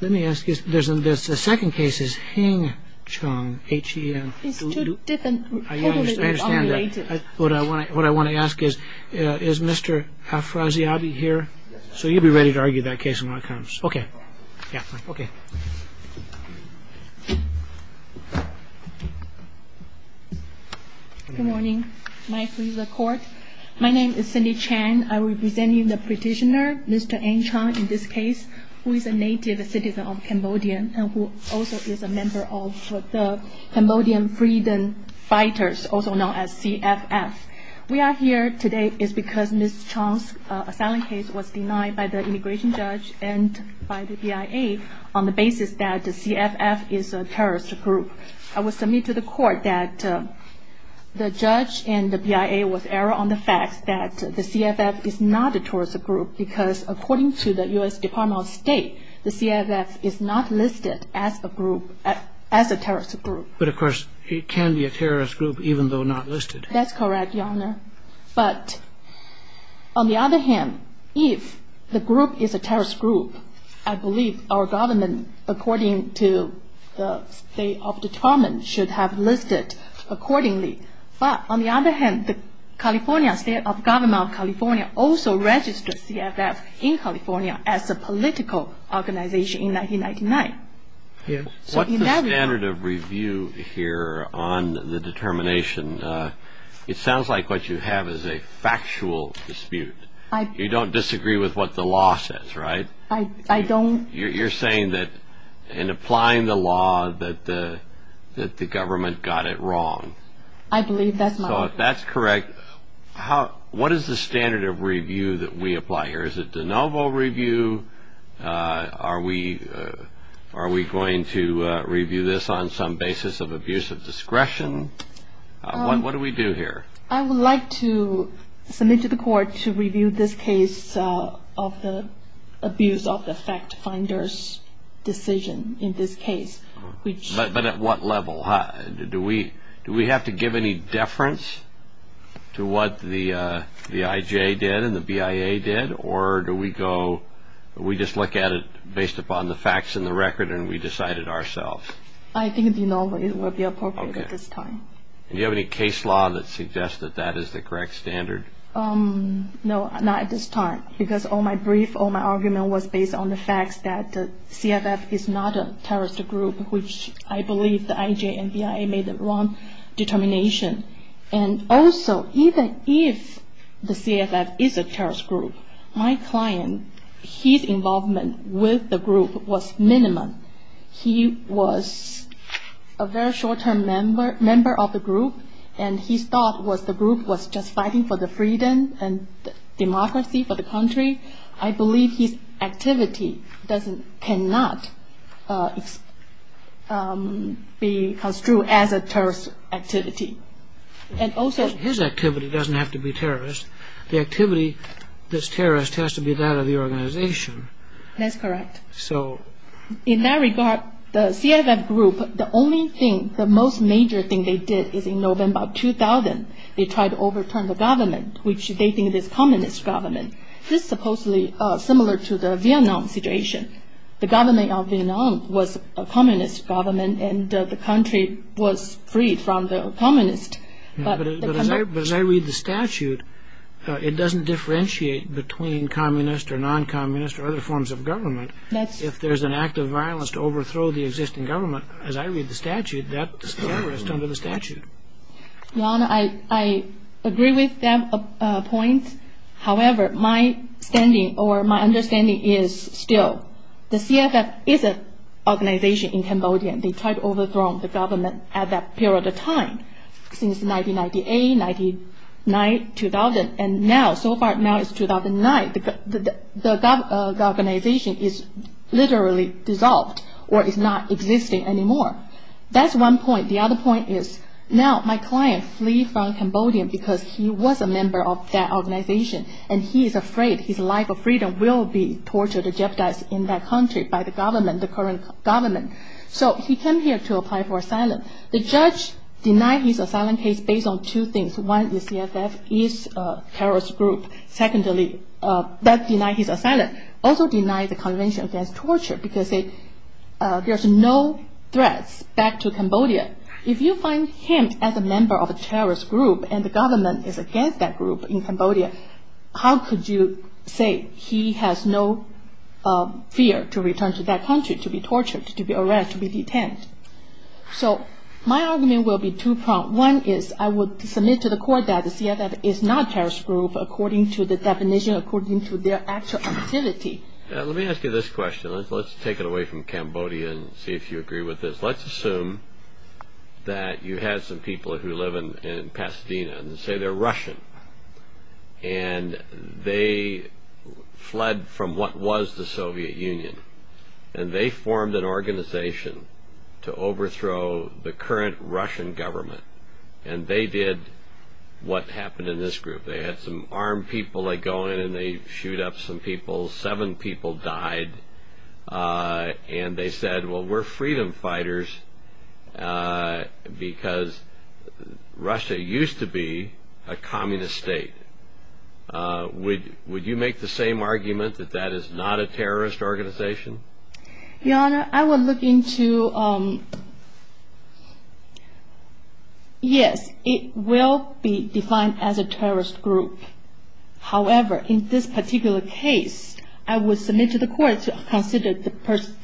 Let me ask you, the second case is Heng Chung. It's two different, totally unrelated. I understand that. What I want to ask is, is Mr. Afrasiabi here? Yes. So you'd be ready to argue that case when it comes. Okay. Yeah, okay. Good morning. My name is Cindy Chan. And I will be presenting the petitioner, Mr. Heng Chung, in this case, who is a native citizen of Cambodia and who also is a member of the Cambodian Freedom Fighters, also known as CFF. We are here today because Ms. Chung's asylum case was denied by the immigration judge and by the BIA on the basis that the CFF is a terrorist group. I will submit to the court that the judge and the BIA was error on the fact that the CFF is not a terrorist group because according to the U.S. Department of State, the CFF is not listed as a group, as a terrorist group. But of course, it can be a terrorist group even though not listed. That's correct, Your Honor. But on the other hand, if the group is a terrorist group, I believe our government, according to the State of Determination, should have listed accordingly. But on the other hand, the California State of Government of California also registered CFF in California as a political organization in 1999. What's the standard of review here on the determination? It sounds like what you have is a factual dispute. You don't disagree with what the law says, right? I don't. You're saying that in applying the law that the government got it wrong. I believe that's my opinion. So if that's correct, what is the standard of review that we apply here? Is it de novo review? Are we going to review this on some basis of abuse of discretion? What do we do here? I would like to submit to the court to review this case of the abuse of the fact finder's decision in this case. But at what level? Do we have to give any deference to what the IJ did and the BIA did? Or do we just look at it based upon the facts in the record and we decide it ourselves? I think de novo would be appropriate at this time. Do you have any case law that suggests that that is the correct standard? No, not at this time. Because all my brief, all my argument was based on the fact that CFF is not a terrorist group, which I believe the IJ and BIA made the wrong determination. And also, even if the CFF is a terrorist group, my client, his involvement with the group was minimum. He was a very short-term member of the group, and his thought was the group was just fighting for the freedom and democracy for the country. I believe his activity cannot be construed as a terrorist activity. His activity doesn't have to be terrorist. The activity that's terrorist has to be that of the organization. That's correct. In that regard, the CFF group, the only thing, the most major thing they did is in November 2000, they tried to overturn the government, which they think is communist government. This is supposedly similar to the Vietnam situation. The government of Vietnam was a communist government, and the country was freed from the communists. But as I read the statute, it doesn't differentiate between communist or non-communist or other forms of government. If there's an act of violence to overthrow the existing government, as I read the statute, that's terrorist under the statute. I agree with that point. However, my understanding is still the CFF is an organization in Cambodia. They tried to overthrow the government at that period of time, since 1998, 1999, 2000. Now, so far, now it's 2009. The organization is literally dissolved or is not existing anymore. That's one point. The other point is now my client flees from Cambodia because he was a member of that organization, and he is afraid his life of freedom will be tortured and jeopardized in that country by the government, the current government. So he came here to apply for asylum. The judge denied his asylum case based on two things. One, the CFF is a terrorist group. Secondly, that denied his asylum. Also denied the Convention Against Torture because there's no threats back to Cambodia. If you find him as a member of a terrorist group, and the government is against that group in Cambodia, how could you say he has no fear to return to that country, to be tortured, to be arrested, to be detained? So my argument will be two-pronged. One is I would submit to the court that the CFF is not terrorist group according to the definition, according to their actual activity. Let me ask you this question. Let's take it away from Cambodia and see if you agree with this. Let's assume that you have some people who live in Pasadena and say they're Russian, and they fled from what was the Soviet Union, and they formed an organization to overthrow the current Russian government, and they did what happened in this group. They had some armed people that go in and they shoot up some people. Seven people died. And they said, well, we're freedom fighters because Russia used to be a communist state. Would you make the same argument that that is not a terrorist organization? Your Honor, I would look into, yes, it will be defined as a terrorist group. However, in this particular case, I would submit to the court to consider the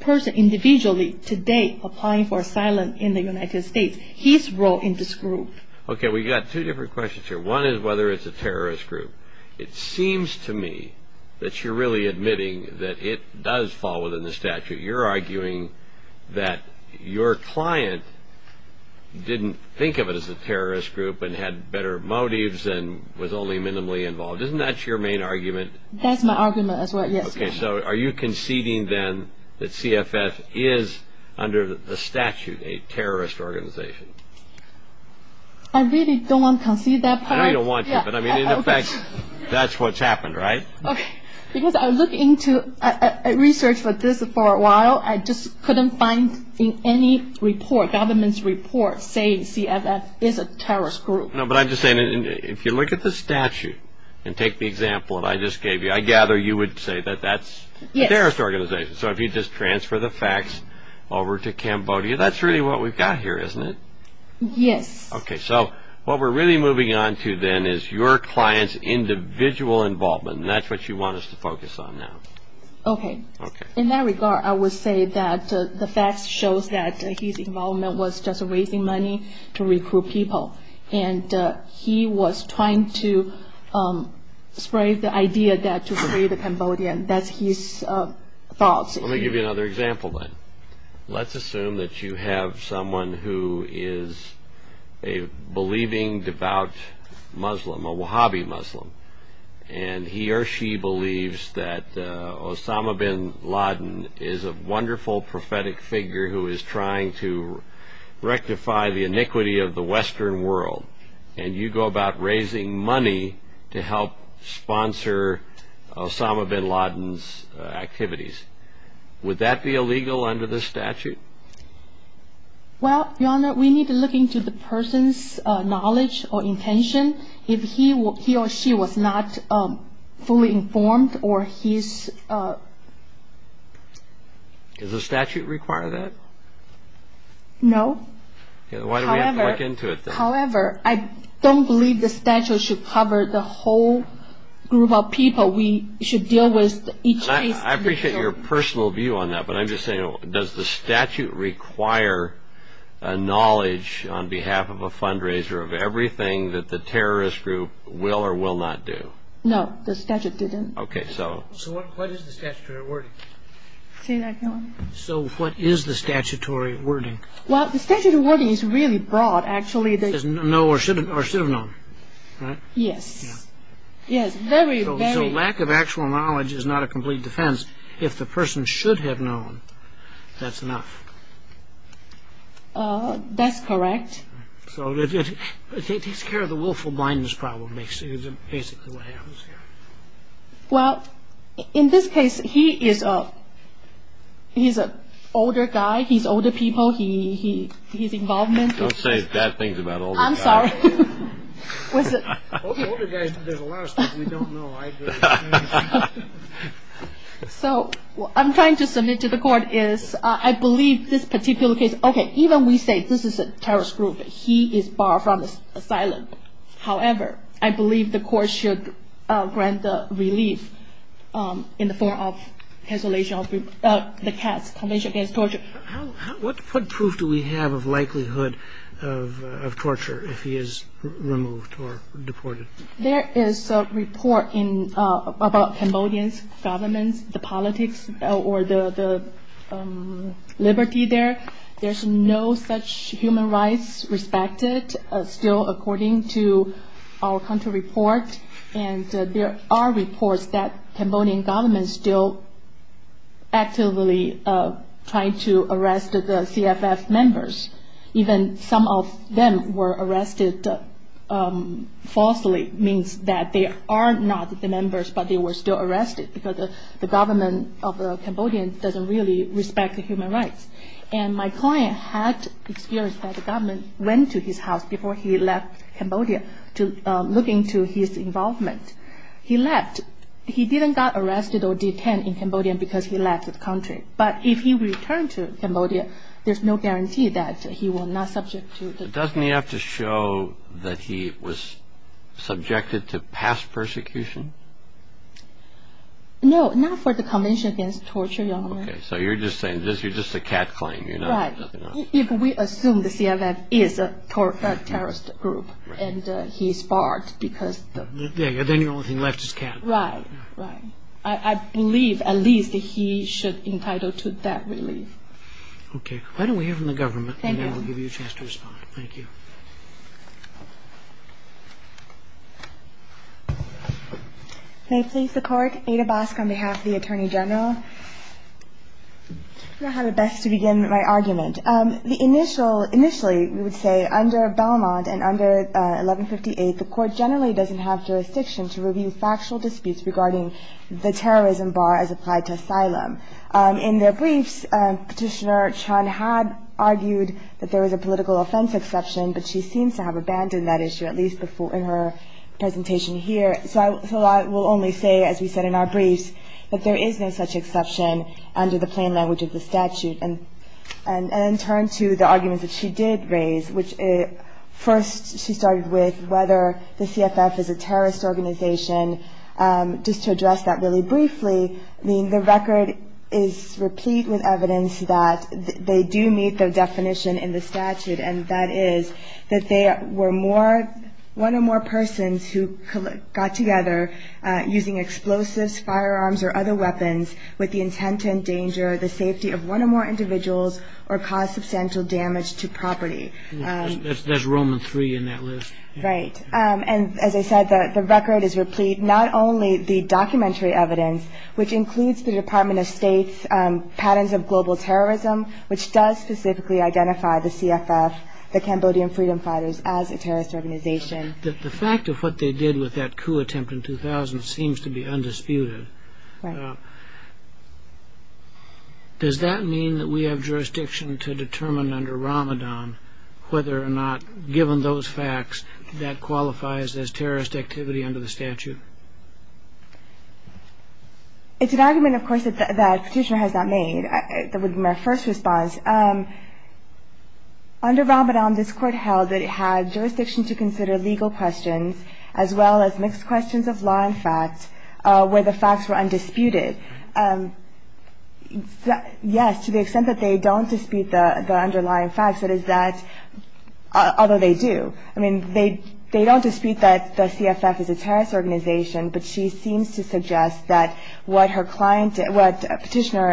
person individually today applying for asylum in the United States, his role in this group. Okay, we've got two different questions here. One is whether it's a terrorist group. It seems to me that you're really admitting that it does fall within the statute. You're arguing that your client didn't think of it as a terrorist group and had better motives and was only minimally involved. Isn't that your main argument? That's my argument as well, yes. Okay, so are you conceding then that CFF is under the statute a terrorist organization? I really don't want to concede that part. I know you don't want to, but I mean, in effect, that's what's happened, right? Okay, because I looked into research for this for a while. I just couldn't find any report, government's report, saying CFF is a terrorist group. No, but I'm just saying, if you look at the statute and take the example that I just gave you, I gather you would say that that's a terrorist organization. So if you just transfer the facts over to Cambodia, that's really what we've got here, isn't it? Yes. Okay, so what we're really moving on to then is your client's individual involvement, and that's what you want us to focus on now. Okay. In that regard, I would say that the facts show that his involvement was just raising money to recruit people, and he was trying to spray the idea that to free the Cambodians. That's his thoughts. Let me give you another example then. Let's assume that you have someone who is a believing, devout Muslim, a Wahhabi Muslim, and he or she believes that Osama bin Laden is a wonderful prophetic figure who is trying to rectify the iniquity of the Western world, and you go about raising money to help sponsor Osama bin Laden's activities. Would that be illegal under the statute? Well, Your Honor, we need to look into the person's knowledge or intention. If he or she was not fully informed or his... Does the statute require that? No. Why do we have to look into it then? However, I don't believe the statute should cover the whole group of people we should deal with each case. I appreciate your personal view on that, but I'm just saying, does the statute require knowledge on behalf of a fundraiser of everything that the terrorist group will or will not do? No, the statute didn't. Okay, so... So what is the statutory wording? Say that again. So what is the statutory wording? Well, the statutory wording is really broad, actually. It says no or should have known, right? Yes. Yes, very, very... So lack of actual knowledge is not a complete defense. If the person should have known, that's enough. That's correct. So it takes care of the willful blindness problem, basically. Well, in this case, he is an older guy. He's older people. His involvement... Don't say bad things about older guys. I'm sorry. Older guys, there's a lot of stuff we don't know. So what I'm trying to submit to the court is I believe this particular case, okay, even we say this is a terrorist group. He is barred from asylum. However, I believe the court should grant the relief in the form of cancellation of the CATS, Convention Against Torture. What proof do we have of likelihood of torture if he is removed or deported? There is a report about Cambodian government, the politics or the liberty there. There's no such human rights respected still according to our country report. There are reports that Cambodian government is still actively trying to arrest the CFF members. Even some of them were arrested falsely. It means that they are not the members, but they were still arrested because the government of Cambodia doesn't really respect the human rights. And my client had experienced that the government went to his house before he left Cambodia to look into his involvement. He left. He didn't get arrested or detained in Cambodia because he left the country. But if he returned to Cambodia, there's no guarantee that he will not be subjected to torture. Doesn't he have to show that he was subjected to past persecution? No, not for the Convention Against Torture, Your Honor. Okay, so you're just saying this is just a CAT claim. If we assume the CFF is a terrorist group and he's barred because... Then the only thing left is CAT. Right, right. I believe at least he should be entitled to that relief. Okay, why don't we hear from the government and then we'll give you a chance to respond. Thank you. May it please the Court, Ada Bosk on behalf of the Attorney General. I'm going to have to begin my argument. Initially, we would say under Belmont and under 1158, the Court generally doesn't have jurisdiction to review factual disputes regarding the terrorism bar as applied to asylum. In their briefs, Petitioner Chun had argued that there was a political offense exception, but she seems to have abandoned that issue, at least in her presentation here. So I will only say, as we said in our briefs, that there is no such exception under the plain language of the statute. And then turn to the arguments that she did raise, which first she started with whether the CFF is a terrorist organization. Just to address that really briefly, the record is replete with evidence that they do meet the definition in the statute, and that is that they were one or more persons who got together using explosives, firearms, or other weapons with the intent to endanger the safety of one or more individuals or cause substantial damage to property. There's Roman III in that list. Right. And as I said, the record is replete not only the documentary evidence, which includes the Department of State's patterns of global terrorism, which does specifically identify the CFF, the Cambodian Freedom Fighters, as a terrorist organization. The fact of what they did with that coup attempt in 2000 seems to be undisputed. Right. Does that mean that we have jurisdiction to determine under Ramadan whether or not given those facts that qualifies as terrorist activity under the statute? It's an argument, of course, that Petitioner has not made. That would be my first response. Under Ramadan, this Court held that it had jurisdiction to consider legal questions as well as mixed questions of law and facts where the facts were undisputed. Yes, to the extent that they don't dispute the underlying facts, that is that, although they do, I mean, they don't dispute that the CFF is a terrorist organization, but she seems to suggest that what Petitioner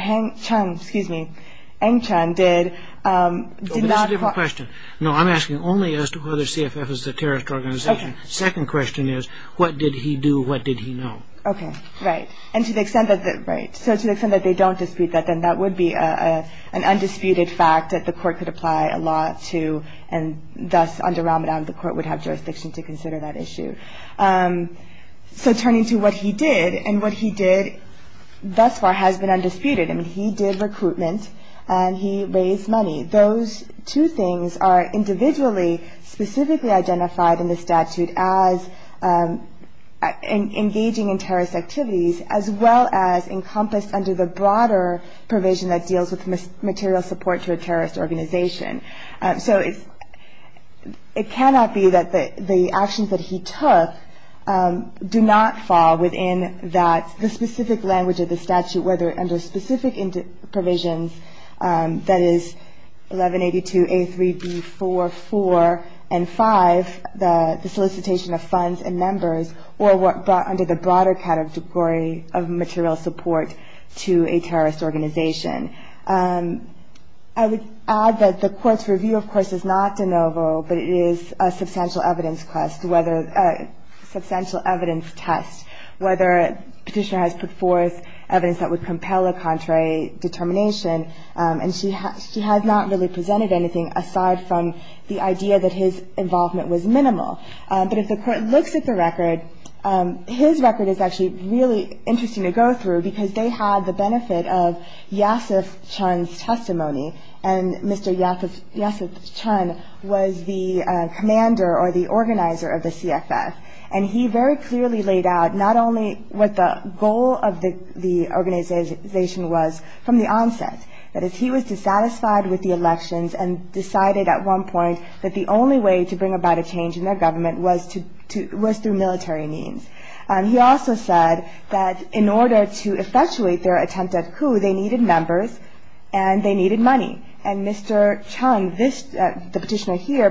Aung San Suu Kyi did did not qualify. That's a different question. No, I'm asking only as to whether CFF is a terrorist organization. Okay. Second question is what did he do, what did he know? Okay, right. And to the extent that they don't dispute that, then that would be an undisputed fact that the Court could apply a law to, and thus under Ramadan the Court would have jurisdiction to consider that issue. So turning to what he did, and what he did thus far has been undisputed. I mean, he did recruitment and he raised money. Those two things are individually specifically identified in the statute as engaging in terrorist activities as well as encompassed under the broader provision that deals with material support to a terrorist organization. So it cannot be that the actions that he took do not fall within the specific language of the statute, whether under specific provisions, that is 1182A3B44 and 5, the solicitation of funds and numbers, or under the broader category of material support to a terrorist organization. I would add that the Court's review, of course, is not de novo, but it is a substantial evidence quest, whether a substantial evidence test, whether Petitioner has put forth evidence that would compel a contrary determination. And she has not really presented anything aside from the idea that his involvement was minimal. But if the Court looks at the record, his record is actually really interesting to go through because they had the benefit of Yasif Chun's testimony, and Mr. Yasif Chun was the commander or the organizer of the CFF. And he very clearly laid out not only what the goal of the organization was from the onset, that is, he was dissatisfied with the elections and decided at one point that the only way to bring about a change in their government was through military means. He also said that in order to effectuate their attempt at coup, they needed members and they needed money. And Mr. Chun, the Petitioner here,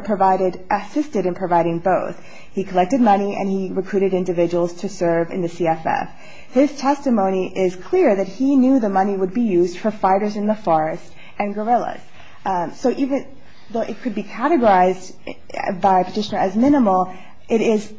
assisted in providing both. He collected money and he recruited individuals to serve in the CFF. His testimony is clear that he knew the money would be used for fighters in the forest and guerrillas. So even though it could be categorized by Petitioner as minimal, it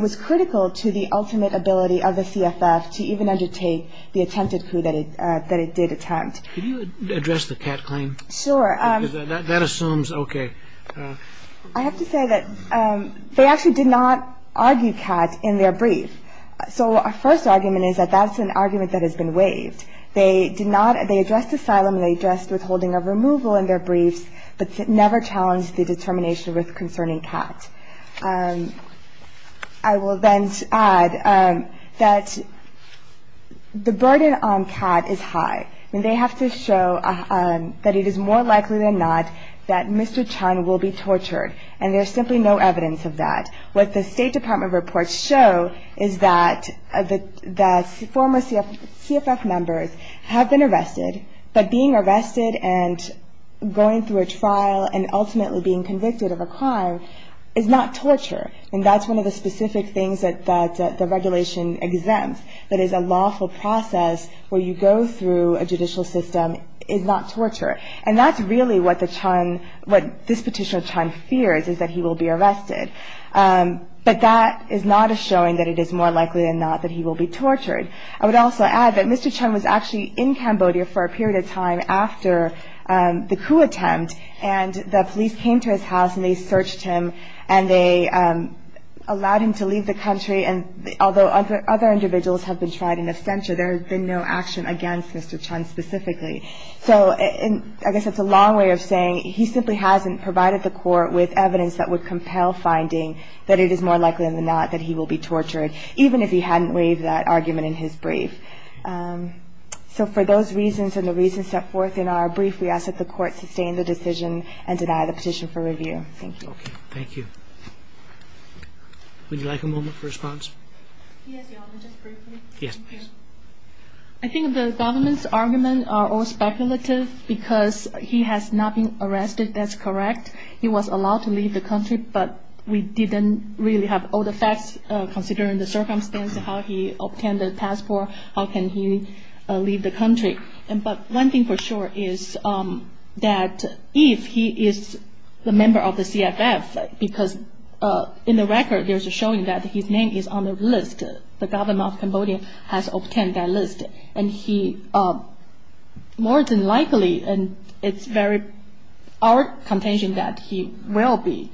was critical to the ultimate ability of the CFF to even undertake the attempted coup that it did attempt. Could you address the Cat claim? Sure. That assumes, okay. I have to say that they actually did not argue Cat in their brief. So our first argument is that that's an argument that has been waived. They addressed asylum, they addressed withholding of removal in their briefs, but never challenged the determination with concerning Cat. I will then add that the burden on Cat is high. They have to show that it is more likely than not that Mr. Chun will be tortured, and there's simply no evidence of that. What the State Department reports show is that former CFF members have been arrested, but being arrested and going through a trial and ultimately being convicted of a crime is not torture. And that's one of the specific things that the regulation exempts, that is a lawful process where you go through a judicial system is not torture. And that's really what this Petitioner Chun fears is that he will be arrested. But that is not a showing that it is more likely than not that he will be tortured. I would also add that Mr. Chun was actually in Cambodia for a period of time after the coup attempt, and the police came to his house and they searched him and they allowed him to leave the country. And although other individuals have been tried in absentia, there has been no action against Mr. Chun specifically. So I guess that's a long way of saying he simply hasn't provided the court with evidence that would compel finding that it is more likely than not that he will be tortured, even if he hadn't waived that argument in his brief. So for those reasons and the reasons set forth in our brief, we ask that the court sustain the decision and deny the petition for review. Thank you. Okay, thank you. Would you like a moment for response? Yes, Your Honor, just briefly. Yes, please. I think the government's arguments are all speculative because he has not been arrested, that's correct. He was allowed to leave the country, but we didn't really have all the facts considering the circumstance, how he obtained the passport, how can he leave the country. But one thing for sure is that if he is a member of the CFF, because in the record there's a showing that his name is on the list, the government of Cambodia has obtained that list. And he more than likely and it's very our contention that he will be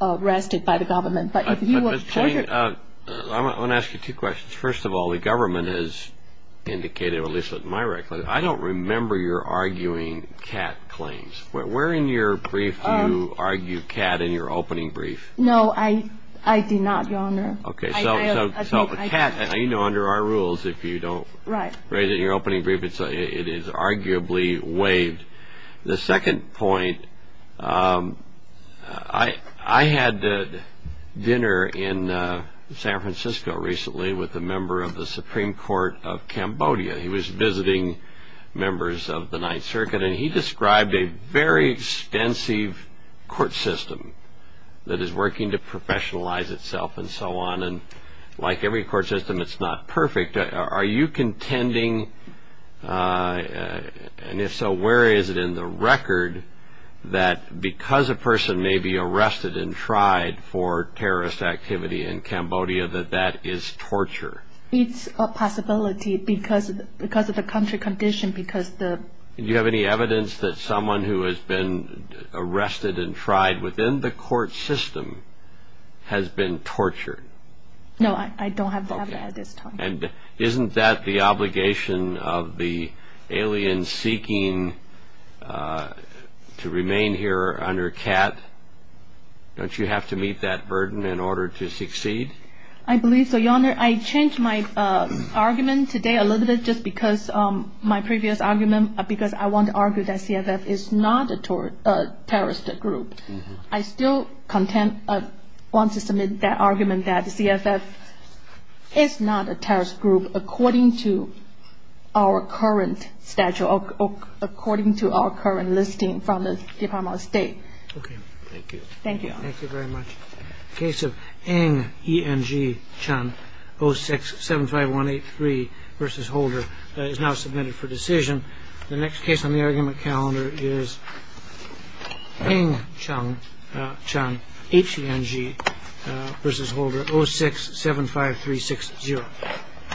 arrested by the government. But if he was tortured. I want to ask you two questions. First of all, the government has indicated, at least in my record, I don't remember your arguing CAT claims. Where in your brief do you argue CAT in your opening brief? No, I did not, Your Honor. Okay, so CAT, you know, under our rules, if you don't. Right. In your opening brief, it is arguably waived. The second point, I had dinner in San Francisco recently with a member of the Supreme Court of Cambodia. He was visiting members of the Ninth Circuit and he described a very extensive court system that is working to professionalize itself and so on. And like every court system, it's not perfect. Are you contending, and if so, where is it in the record, that because a person may be arrested and tried for terrorist activity in Cambodia, that that is torture? It's a possibility because of the country condition. Do you have any evidence that someone who has been arrested and tried within the court system has been tortured? No, I don't have that at this time. And isn't that the obligation of the aliens seeking to remain here under CAT? Don't you have to meet that burden in order to succeed? I believe so, Your Honor. I changed my argument today a little bit just because my previous argument, because I want to argue that CFF is not a terrorist group. I still want to submit that argument that CFF is not a terrorist group according to our current statute, according to our current listing from the Department of State. Okay. Thank you. Thank you, Your Honor. Thank you very much. The case of Ng, E-N-G, Chan, 06-75183 v. Holder is now submitted for decision. The next case on the argument calendar is Ng, E-N-G, Chan v. Holder, 06-75360.